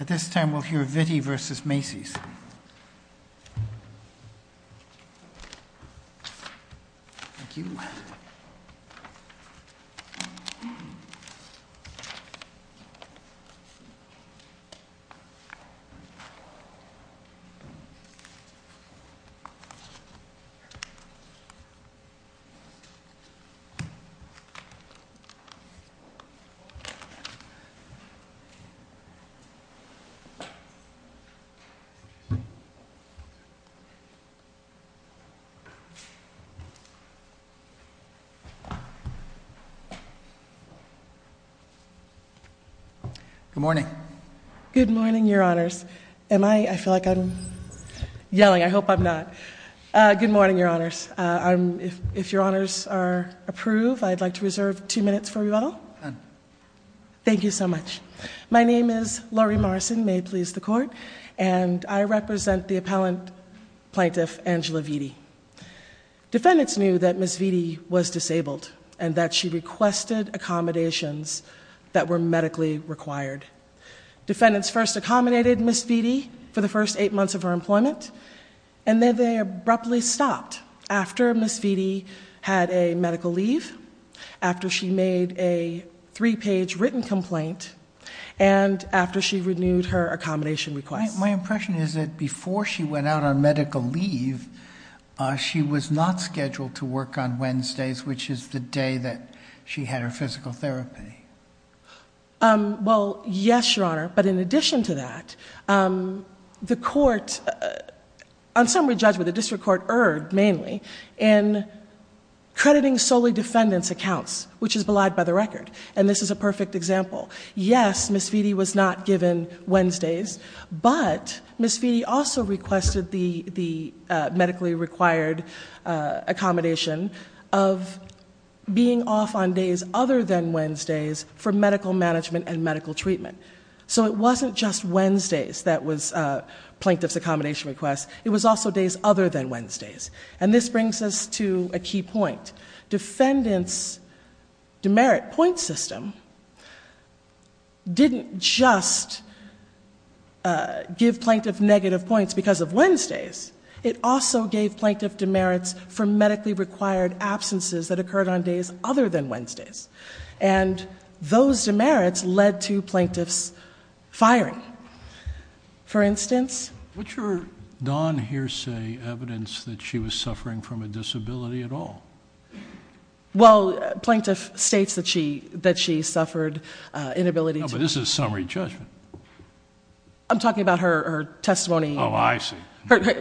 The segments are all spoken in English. At this time, we'll hear Vitti v. Macy's. Good morning. Good morning, your honors. I feel like I'm yelling. I hope I'm not. Good morning, your honors. If your honors are approved, I'd like to reserve two minutes for rebuttal. Thank you so much. My name is Laurie Morrison, may it please the court. I represent the appellant plaintiff, Angela Vitti. Defendants knew that Ms. Vitti was disabled and that she requested accommodations that were medically required. Defendants first accommodated Ms. Vitti for the first eight months of her employment and then they abruptly stopped after Ms. Vitti had a medical leave, after she made a three-page written complaint, and after she renewed her accommodation request. My impression is that before she went out on medical leave, she was not scheduled to work on Wednesdays, which is the day that she had her physical therapy. Well, yes, your honor. But in addition to that, the court, on summary judgment, the district court erred mainly in crediting solely defendants' accounts, which is belied by the record, and this is a perfect example. Yes, Ms. Vitti was not given Wednesdays, but Ms. Vitti also requested the medically required accommodation of being off on days other than Wednesdays for medical management and medical treatment. So it wasn't just Wednesdays that was plaintiff's accommodation request, it was also days other than Wednesdays. And this brings us to a key point. Defendants' demerit point system didn't just give plaintiff negative points because of Wednesdays, it also gave plaintiff demerits for medically required absences that occurred on days other than Wednesdays. And those demerits led to plaintiff's firing. For instance... What's your non-hearsay evidence that she was suffering from a disability at all? Well, plaintiff states that she suffered inability to... No, but this is summary judgment. I'm talking about her testimony... Oh, I see.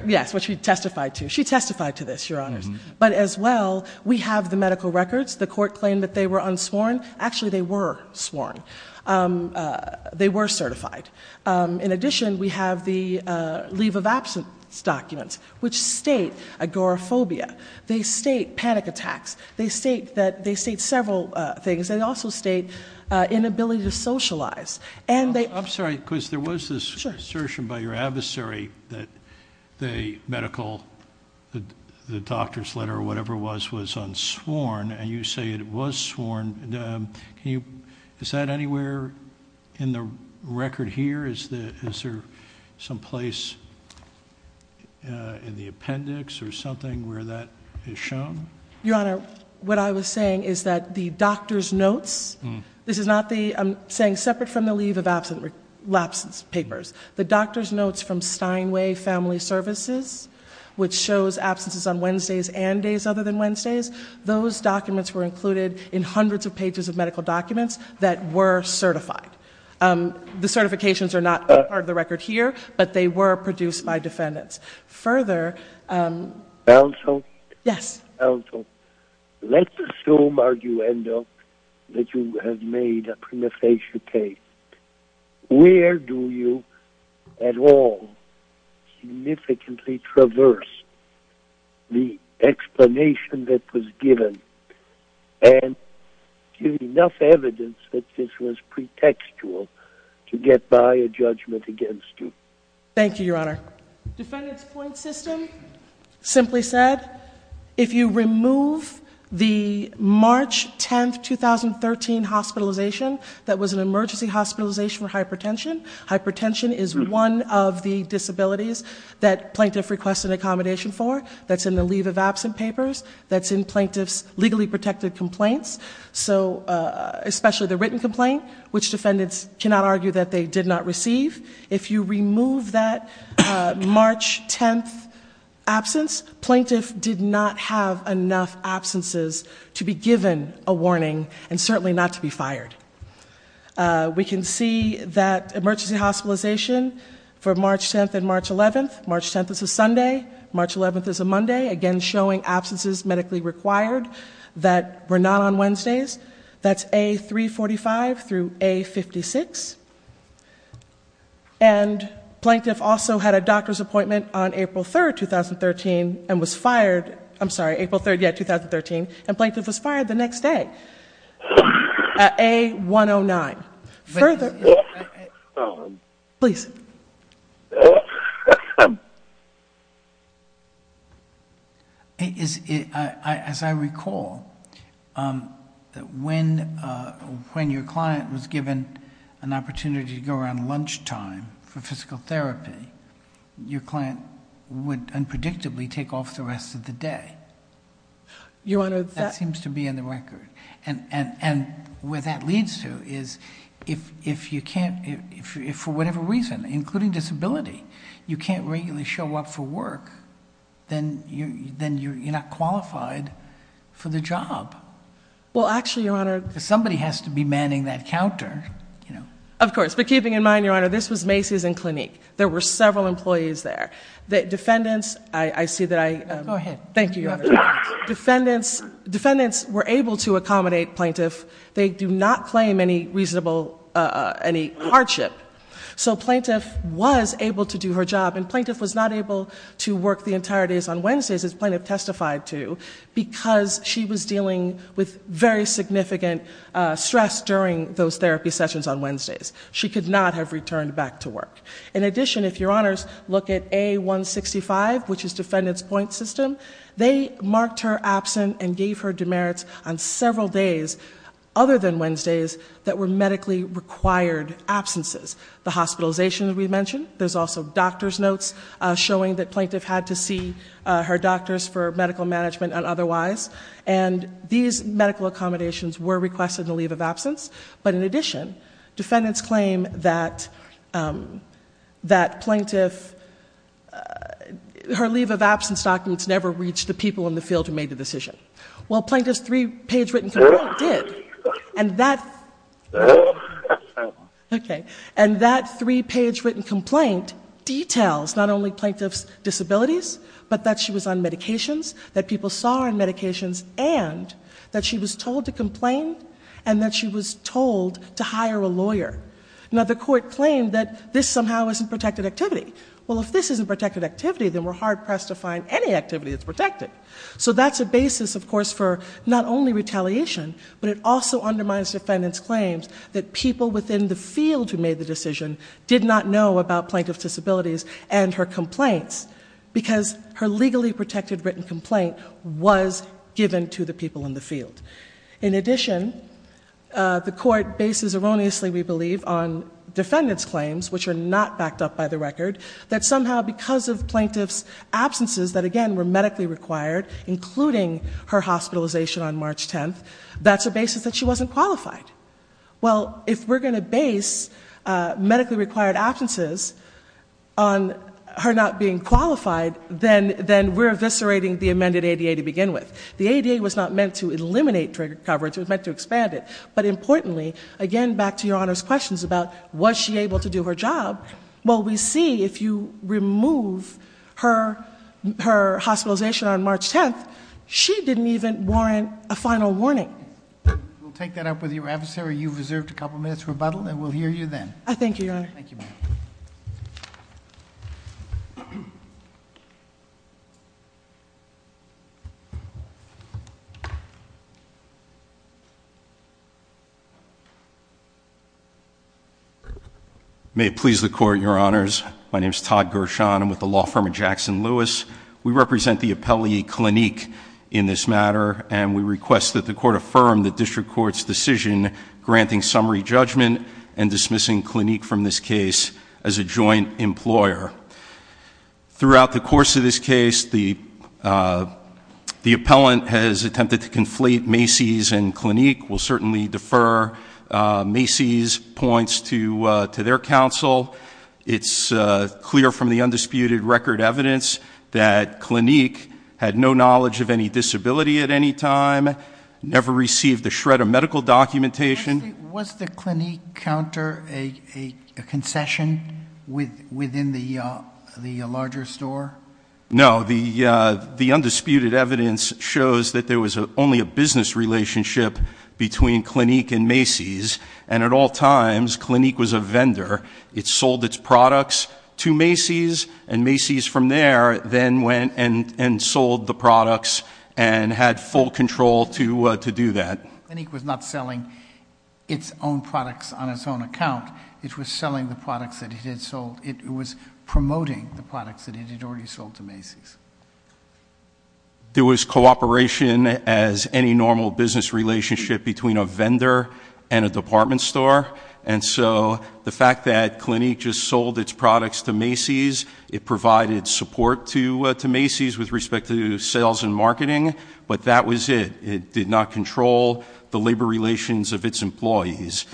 Yes, what she testified to. She testified to this, Your Honors. But as well, we have the medical records. The court claimed that they were unsworn. Actually, they were sworn. They were certified. In addition, we have the leave of absence documents which state agoraphobia. They state panic attacks. They state several things. They also state inability to socialize. I'm sorry, because there was this assertion by your adversary that the medical... the doctor's letter or whatever it was was unsworn and you say it was sworn. Is that anywhere in the record here? Is there some place in the appendix or something where that is shown? Your Honor, what I was saying is that the doctor's notes... This is not the... I'm saying separate from the leave of absence papers. The doctor's notes from Steinway Family Services which shows absences on Wednesdays and days other than Wednesdays, those documents were included in hundreds of pages of medical documents that were certified. The certifications are not part of the record here, but they were produced by defendants. Further... Counsel? Let's assume, arguendo, that you have made a prima facie case. Where do you at all significantly traverse the explanation that was given and give enough evidence that this was pretextual to get by a judgment against you? Thank you, Your Honor. Defendant's point system simply said if you remove the March 10, 2013 hospitalization that was an emergency hospitalization for hypertension. Hypertension is one of the disabilities that plaintiff requests an accommodation for. That's in the leave of absence papers. That's in plaintiff's legally protected complaints. Especially the written complaint, which defendants cannot argue that they did not receive. If you remove that March 10 absence, plaintiff did not have enough absences to be given a warning and certainly not to be fired. We can see that emergency hospitalization for March 10 and March 11. March 10 is a Sunday, March 11 is a Monday, again showing absences medically required that were not on Wednesdays. That's A345 through A56. Plaintiff also had a doctor's appointment on April 3, 2013 and was fired the next day at A109. As I recall, when your client was given an opportunity to go around lunchtime for physical therapy, your client would unpredictably take off the rest of the day. That seems to be in the record. Where that leads to is if for whatever reason, including disability, you can't regularly show up for work, then you're not qualified for the job. Somebody has to be manning that counter. Of course, but keeping in mind, Your Honor, this was Macy's and Clinique. There were several employees there. Thank you, Your Honor. Defendants were able to accommodate plaintiff. They do not claim any reasonable hardship. So plaintiff was able to do her job and plaintiff was not able to work the entire days on Wednesdays as plaintiff testified to because she was dealing with very significant stress during those therapy sessions on Wednesdays. She could not have returned back to work. In addition, if Your Honors look at A165, which is defendant's point system, they marked her absent and gave her demerits on several days other than Wednesdays that were medically required absences. The hospitalization we mentioned. There's also doctor's notes showing that plaintiff had to see her doctors for medical management and otherwise. These medical accommodations were requested in the leave of absence. But in addition, defendants claim that plaintiff her leave of absence documents never reached the people in the field who made the decision. Well, plaintiff's three-page written complaint did. And that three-page written complaint details not only plaintiff's disabilities, but that she was on medications, that people saw her on medications and that she was told to complain and that she was told to hire a lawyer. Now, the court claimed that this somehow isn't protected activity. Well, if this isn't protected activity, then we're hard-pressed to find any activity that's protected. So that's a basis, of course, for not only retaliation, but it also undermines defendants' claims that people within the field who made the decision did not know about plaintiff's disabilities and her complaints because her legally protected written complaint was given to the people in the field. In addition, the court bases erroneously, we believe, on defendants' claims, which are not backed up by the record, that somehow because of plaintiff's absences that, again, were medically required, including her hospitalization on March 10th, that's a basis that she wasn't qualified. Well, if we're going to base medically required absences on her not being qualified, then we're eviscerating the amended ADA to begin with. The ADA was not meant to eliminate trigger coverage. It was meant to expand it. But importantly, again, back to Your Honor's questions about was she able to do her job, well, we see if you remove her hospitalization on March 10th, she didn't even warrant a final warning. We'll take that up with your adversary. You've reserved a couple minutes for rebuttal, and we'll hear you then. Thank you, Your Honor. May it please the Court, Your Honors. My name is Todd Gershon. I'm with the law firm of Jackson Lewis. We represent the appellee, Clinique, in this matter, and we request that the Court affirm the district court's decision granting summary judgment and dismissing Clinique from this case as a joint employer. Throughout the course of this case, the appellant has attempted to conflate Macy's and Clinique. We'll certainly defer Macy's points to their counsel. It's clear from the undisputed record evidence that Clinique had no knowledge of any disability at any time, never received a shred of medical documentation. Was the Clinique counter a concession within the larger store? No. The undisputed evidence shows that there was only a business relationship between Clinique and Macy's, and at all times Clinique was a vendor. It sold its products to Macy's, and Macy's from there then went and sold the products and had full control to do that. Clinique was not selling its own products on its own account. It was selling the products that it had sold. It was promoting the products that it had already sold to Macy's. There was cooperation as any normal business relationship between a vendor and a department store, and so the fact that Clinique just sold its products to Macy's, it provided support to Macy's with respect to sales and marketing, but that was it. It did not control the labor relations of its employees.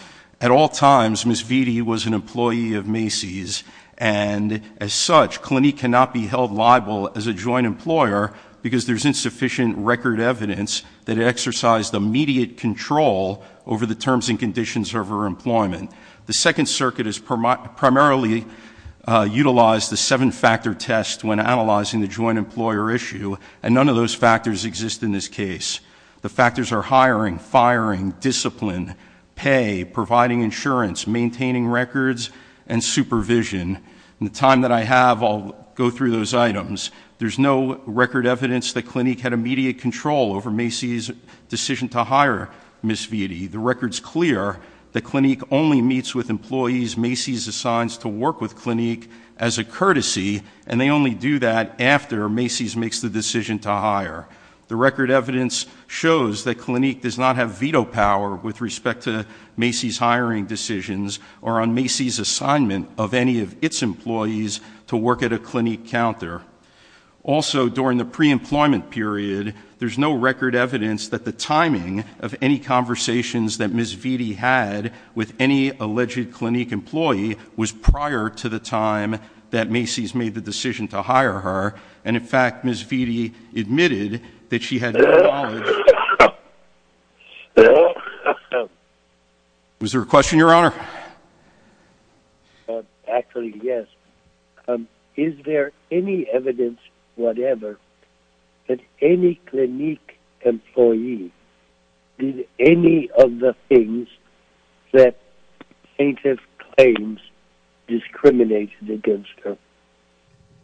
At all times, Ms. Vitti was an employee of Macy's, and as such, Clinique cannot be held liable as a joint employer because there's insufficient record evidence that it exercised immediate control over the terms and conditions of her employment. The Second Circuit has primarily utilized the seven-factor test when analyzing the joint employer issue, and none of those factors exist in this case. The factors are hiring, firing, discipline, pay, providing insurance, maintaining records, and supervision. In the time that I have, I'll go through those items. There's no record evidence that Clinique had immediate control over Macy's decision to hire Ms. Vitti. The record's clear that Clinique only meets with employees Macy's assigns to work with Clinique as a courtesy, and they only do that after Macy's makes the decision to hire. The record evidence shows that Clinique does not have veto power with respect to Macy's hiring decisions or on Macy's assignment of any of its employees to work at a Clinique counter. Also, during the pre-employment period, there's no record evidence that the timing of any conversations that Ms. Vitti had with any alleged Clinique employee was prior to the time that Macy's made the decision to hire her, and, in fact, Ms. Vitti admitted that she had no knowledge... Was there a question, Your Honor? Actually, yes. Is there any evidence whatever that any Clinique employee did any of the things that plaintiff claims discriminated against her?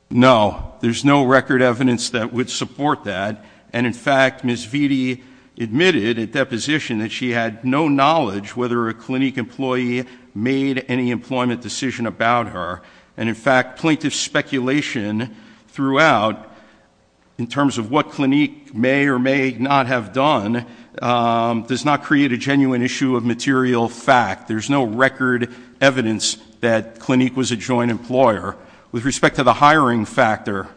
No. There's no record evidence that would support that, and, in fact, Ms. Vitti admitted at deposition that she had no knowledge whether a Clinique employee made any employment decision about her, and, in fact, plaintiff speculation throughout in terms of what Clinique may or may not have done does not create a genuine issue of material fact. There's no record evidence that Clinique was a joint employer. With respect to the hiring factor,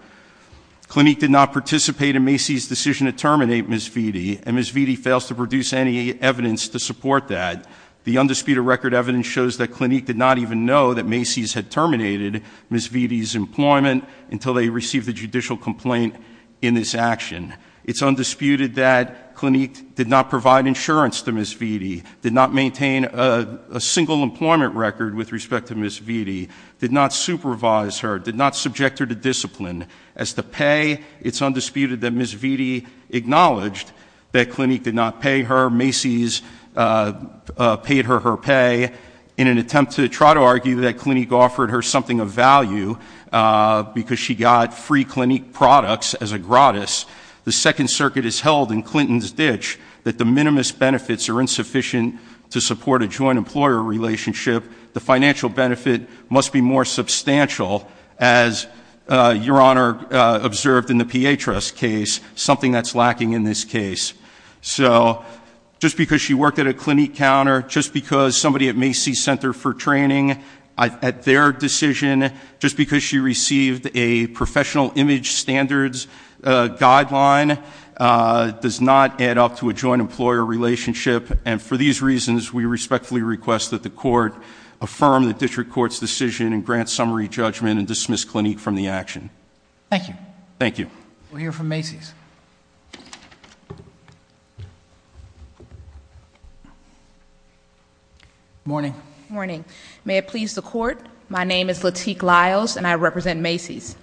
Clinique did not participate in Macy's decision to terminate Ms. Vitti, and Ms. Vitti fails to produce any evidence to support that. The undisputed record evidence shows that Clinique did not even know that Macy's had terminated Ms. Vitti's employment until they received the judicial complaint in this action. It's undisputed that Clinique did not provide insurance to Ms. Vitti, did not maintain a single employment record with respect to Ms. Vitti, did not supervise her, did not subject her to discipline. As to pay, it's undisputed that Ms. Vitti acknowledged that Clinique did not pay her. Macy's paid her her pay in an attempt to try to argue that Clinique offered her something of value because she got free Clinique products as a gratis. The Second Circuit has held in Clinton's ditch that the minimum benefits are insufficient to support a joint employer relationship. The financial benefit must be more substantial, as Your Honor observed in the P.A. Trust case, something that's lacking in this case. So, just because she worked at a Clinique counter, just because somebody at Macy's Center for Training, at their decision, just because she received a professional image standards guideline does not add up to a joint employer relationship and for these reasons, we respectfully request that the Court affirm the District Court's decision and grant summary judgment and dismiss Clinique from the action. Thank you. We'll hear from Macy's. Morning. Morning. May it please the Court, my name is Lateek Lyles and I represent Macy's.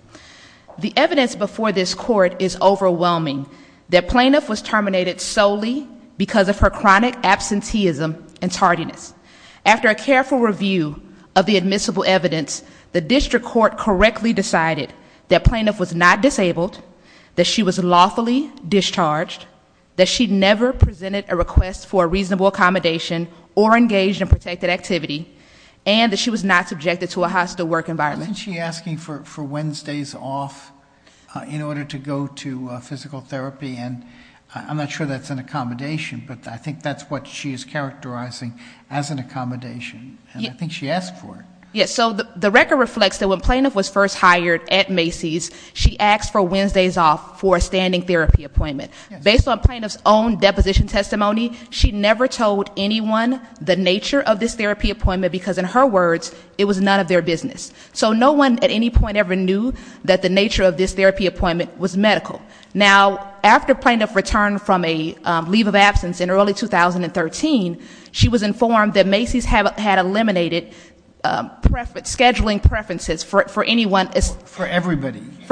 The evidence before this Court is overwhelming that Plaintiff was terminated solely because of her chronic absenteeism and tardiness. After a careful review of the admissible evidence, the District Court correctly decided that Plaintiff was not disabled, that she was lawfully discharged, that she never presented a request for a reasonable accommodation or engaged in protected activity, and that she was not subjected to a hostile work environment. Isn't she asking for Wednesdays off in order to go to physical therapy and I'm not sure that's an accommodation, but I think that's what she's characterizing as an accommodation and I think she asked for it. Yes, so the record reflects that when Plaintiff was first hired at Macy's, she asked for Wednesdays off for a standing therapy appointment. Based on Plaintiff's own deposition testimony, she never told anyone the nature of this therapy appointment because, in her words, it was none of their business. So no one at any point ever knew that the nature of this therapy appointment was medical. Now, after Plaintiff returned from a leave of absence in early 2013, she was informed that Macy's had eliminated scheduling preferences for anyone for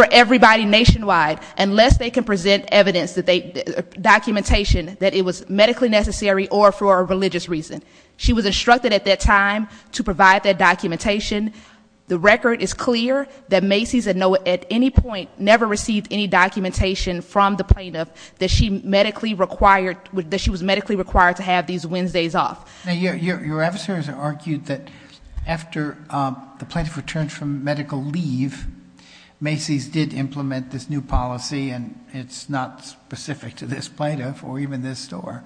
everybody nationwide unless they can present evidence or documentation that it was medically necessary or for a religious reason. She was instructed at that time to provide that documentation. The record is clear that Macy's at any point never received any documentation from the Plaintiff that she was medically required to have these Wednesdays off. Now, your adversaries argued that after the Plaintiff returned from medical leave, Macy's did implement this new policy and it's not specific to this Plaintiff or even this store,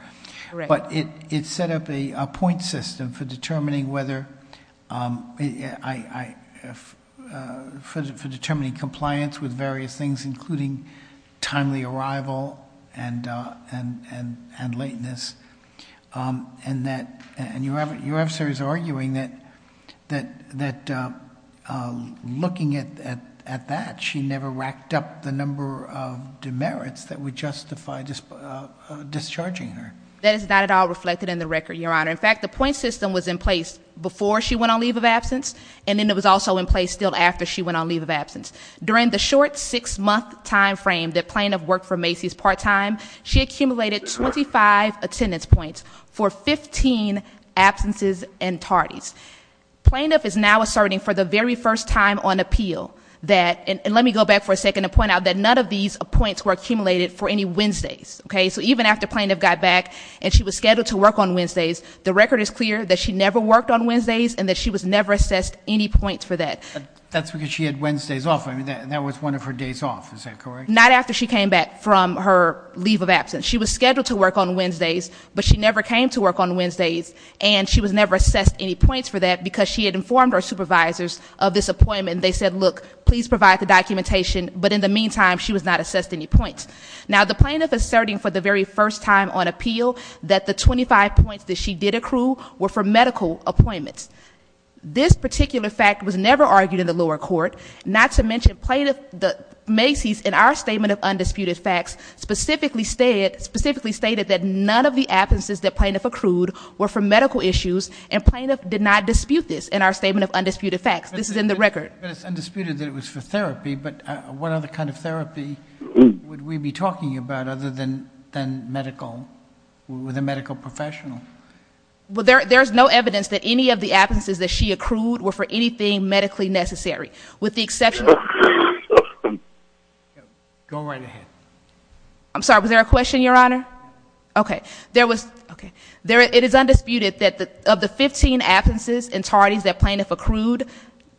but it set up a point system for determining whether... for determining compliance with various things, including timely arrival and lateness. And your adversary is arguing that looking at that, she never racked up the number of demerits that would justify discharging her. That is not at all reflected in the record, Your Honor. In fact, the point system was in place before she went on leave of absence and then it was also in place still after she went on leave of absence. During the short six-month time frame that Plaintiff worked for Macy's part-time, she accumulated 25 attendance points for 15 absences and tardies. Plaintiff is now asserting for the very first time on appeal that, and let me go back for a second and point out that none of these points were accumulated for any Wednesdays. So even after Plaintiff got back and she was scheduled to work on Wednesdays, the record is clear that she never worked on Wednesdays and that she was never assessed any points for that. That's because she had Wednesdays off. I mean, that was one of her days off. Is that correct? Not after she came back from her leave of absence. She was scheduled to work on Wednesdays, but she never came to work on Wednesdays and she was never assessed any points for that because she had informed her supervisors of this appointment. They said, look, please provide the documentation. But in the meantime, she was not assessed any points. Now, the Plaintiff is asserting for the very first time on appeal that the 25 points that she did accrue were for medical appointments. This particular fact was never argued in the lower court, not to mention Plaintiff Macy's in our statement of undisputed facts specifically stated that none of the absences that Plaintiff accrued were for medical issues and Plaintiff did not dispute this in our statement of undisputed facts. This is in the record. But it's undisputed that it was for therapy, but what other kind of therapy would we be talking about other than medical, with a medical professional? Well, there's no evidence that any of the absences that she accrued were for anything medically necessary, with the exception of... Go right ahead. I'm sorry. Was there a question, Your Honor? Okay. There was... Okay. It is undisputed that of the 15 absences and tardies that Plaintiff accrued,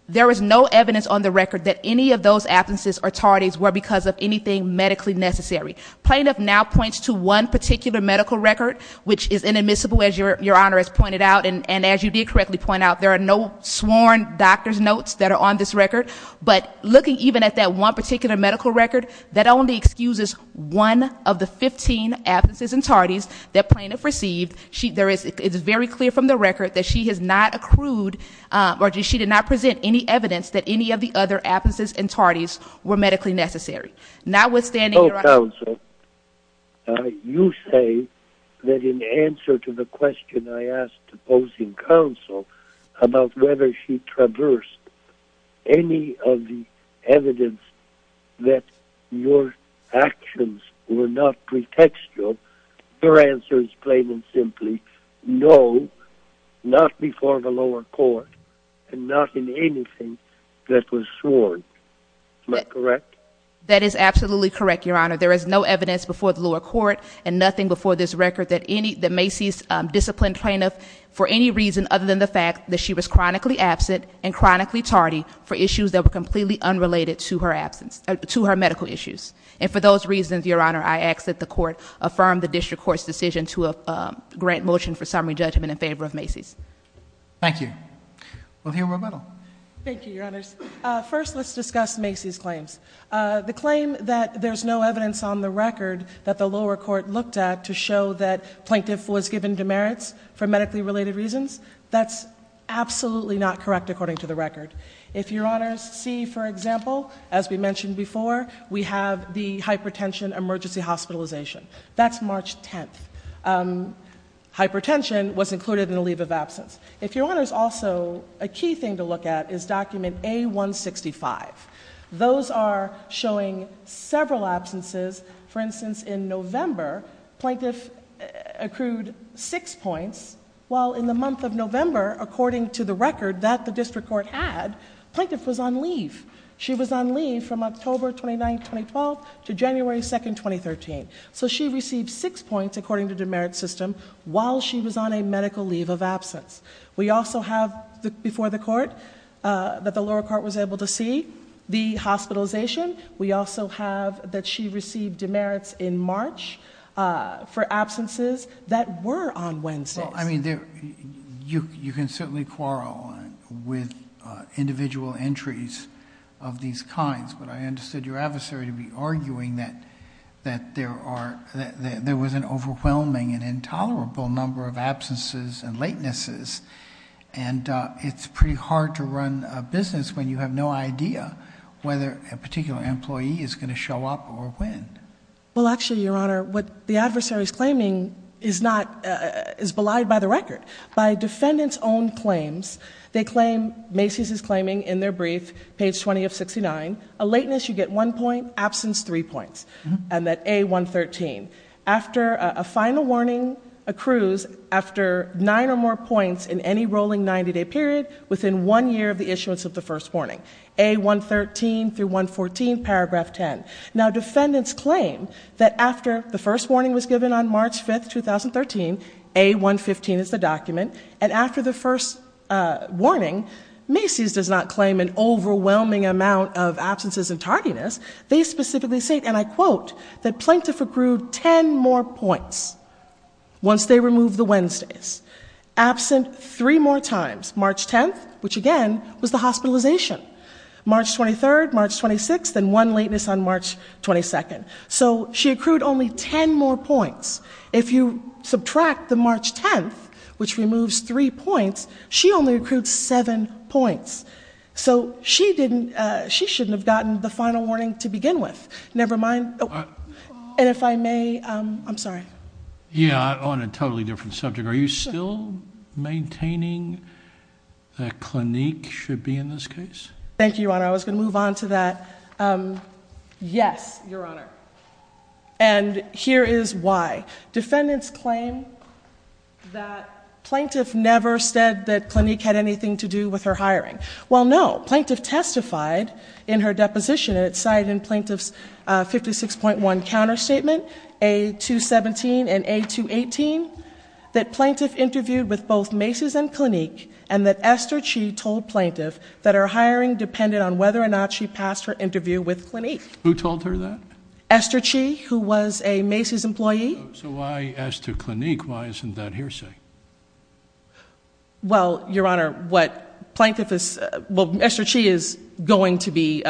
there is no evidence on the record that any of those absences or tardies were because of anything medically necessary. Plaintiff now points to one particular medical record, which is inadmissible, as Your Honor has pointed out, and as you did correctly point out, there are no sworn doctor's notes that are on this record. But looking even at that one particular medical record, that only excuses one of the 15 absences and tardies that Plaintiff received. It's very clear from the record that she has not accrued, or she did not present any evidence that any of the other absences and tardies were medically necessary. Notwithstanding, Your Honor... You say that in answer to the question I asked the opposing counsel about whether she traversed any of the evidence that your actions were not pretextual, her answer is plain and simply, no, not before the lower court, and not in anything that was sworn. Am I correct? That is absolutely correct, Your Honor. There is no evidence before the lower court and nothing before this record that Macy's disciplined Plaintiff for any reason other than the fact that she was chronically absent and chronically tardy for issues that were completely unrelated to her absence, to her medical issues. And for those reasons, Your Honor, I ask that the court affirm the district court's decision to grant motion for summary judgment in favor of Macy's. Thank you. Well, here we're a little. Thank you, Your Honors. First, let's discuss Macy's claims. The claim that there's no evidence on the record that the lower court looked at to show that Plaintiff was given demerits for medically related reasons, that's absolutely not correct according to the record. If Your Honors see, for example, as we mentioned before, we have the hypertension emergency hospitalization. That's March 10th. Hypertension was included in the leave of absence. If Your Honors also, a key thing to look at is document A-165. Those are showing several absences. For instance, in November, Plaintiff accrued six points, while in the month of November, according to the record that the district court had, Plaintiff was on leave. She was on leave from October 29th, 2012, to January 2nd, 2013. So she received six points, according to demerit system, while she was on a medical leave of absence. We also have, before the court, that the lower court was able to see the hospitalization. We also have that she received demerits in March for absences that were on Wednesdays. Well, I mean, you can certainly quarrel with individual entries of these kinds, but I understood your adversary to be arguing that there was an overwhelming and intolerable number of absences and latenesses, and it's pretty hard to run a business when you have no idea whether a particular employee is going to show up or when. Well, actually, Your Honor, what the adversary is claiming is not, is belied by the record. By defendant's own claims, they claim, Macy's is claiming in their brief, page 20 of 69, a lateness, you get one point, absence, three points. And that A-113. After a final warning accrues after nine or more points in any rolling 90-day period within one year of the issuance of the first warning, A-113 through 114, paragraph 10. Now, defendants claim that after the first warning was given on March 5, 2013, A-115 is the document, and after the first warning, Macy's does not claim an overwhelming amount of absences and tardiness. They specifically say, and I quote, that plaintiff accrued ten more points once they removed the Wednesdays. Absent three more times. March 10th, which again was the hospitalization. March 23rd, March 26th, and one lateness on March 22nd. So she accrued only ten more points. If you subtract the March 10th, which removes three points, she only accrued seven points. So she didn't, she shouldn't have gotten the final warning to begin with. Never mind. And if I may, I'm sorry. Yeah, on a totally different subject. Are you still maintaining that Clinique should be in this case? Thank you, Your Honor. I was going to move on to that. Yes, Your Honor. And here is why. Defendants claim that plaintiff never said that Clinique had anything to do with her hiring. Well, no. Plaintiff testified in her deposition and it's cited in Plaintiff's 56.1 counterstatement, A217 and A218, that plaintiff interviewed with both Macy's and Clinique and that Esther Chee told plaintiff that her hiring depended on whether or not she passed her interview with Clinique. Who told her that? Esther Chee, who was a Macy's employee. So why Esther Clinique? Why isn't that hearsay? Well, Your Honor, what plaintiff is, well, Esther Chee is going to be,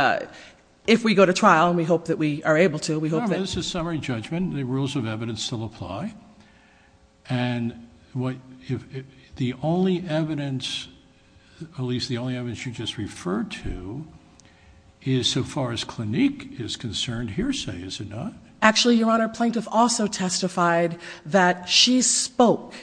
if we go to trial, and we hope that we are able to, we hope that... Your Honor, this is summary judgment. The rules of evidence still apply. And the only evidence, at least the only evidence you just referred to, is so far as Clinique is concerned, hearsay, is it not? Actually, Your Honor, plaintiff also testified that she spoke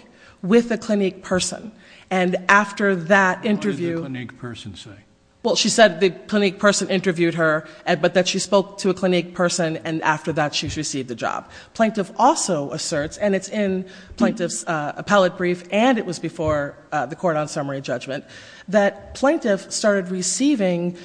with the Clinique person and after that interview... What did the Clinique person say? Well, she said the Clinique person interviewed her, but that she spoke to a Clinique person and after that she received a job. Plaintiff also asserts, and it's in plaintiff's appellate brief and it was before the court on summary judgment, that plaintiff started receiving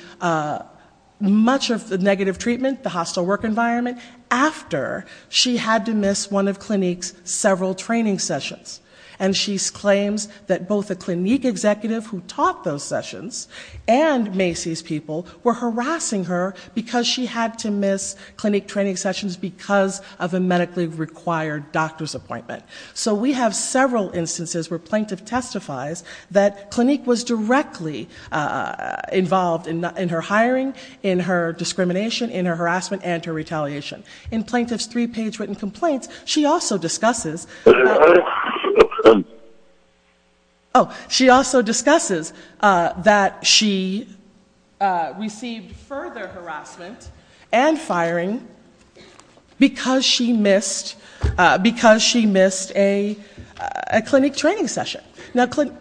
much of the negative treatment, the hostile work environment, after she had to miss one of Clinique's several training sessions. And she claims that both the Clinique executive who taught those sessions and Macy's people were harassing her because she had to miss Clinique training sessions because of a medically required doctor's appointment. So we have several instances where plaintiff testifies that Clinique was directly involved in her hiring, in her discrimination, in her harassment, and her retaliation. In plaintiff's three-page written complaints, she also discusses... Oh, she also discusses that she received further harassment and firing because she missed a Clinique training session. Now, Clinique...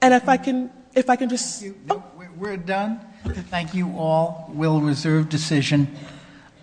And if I can just... We're done. Thank you all. We'll reserve decision.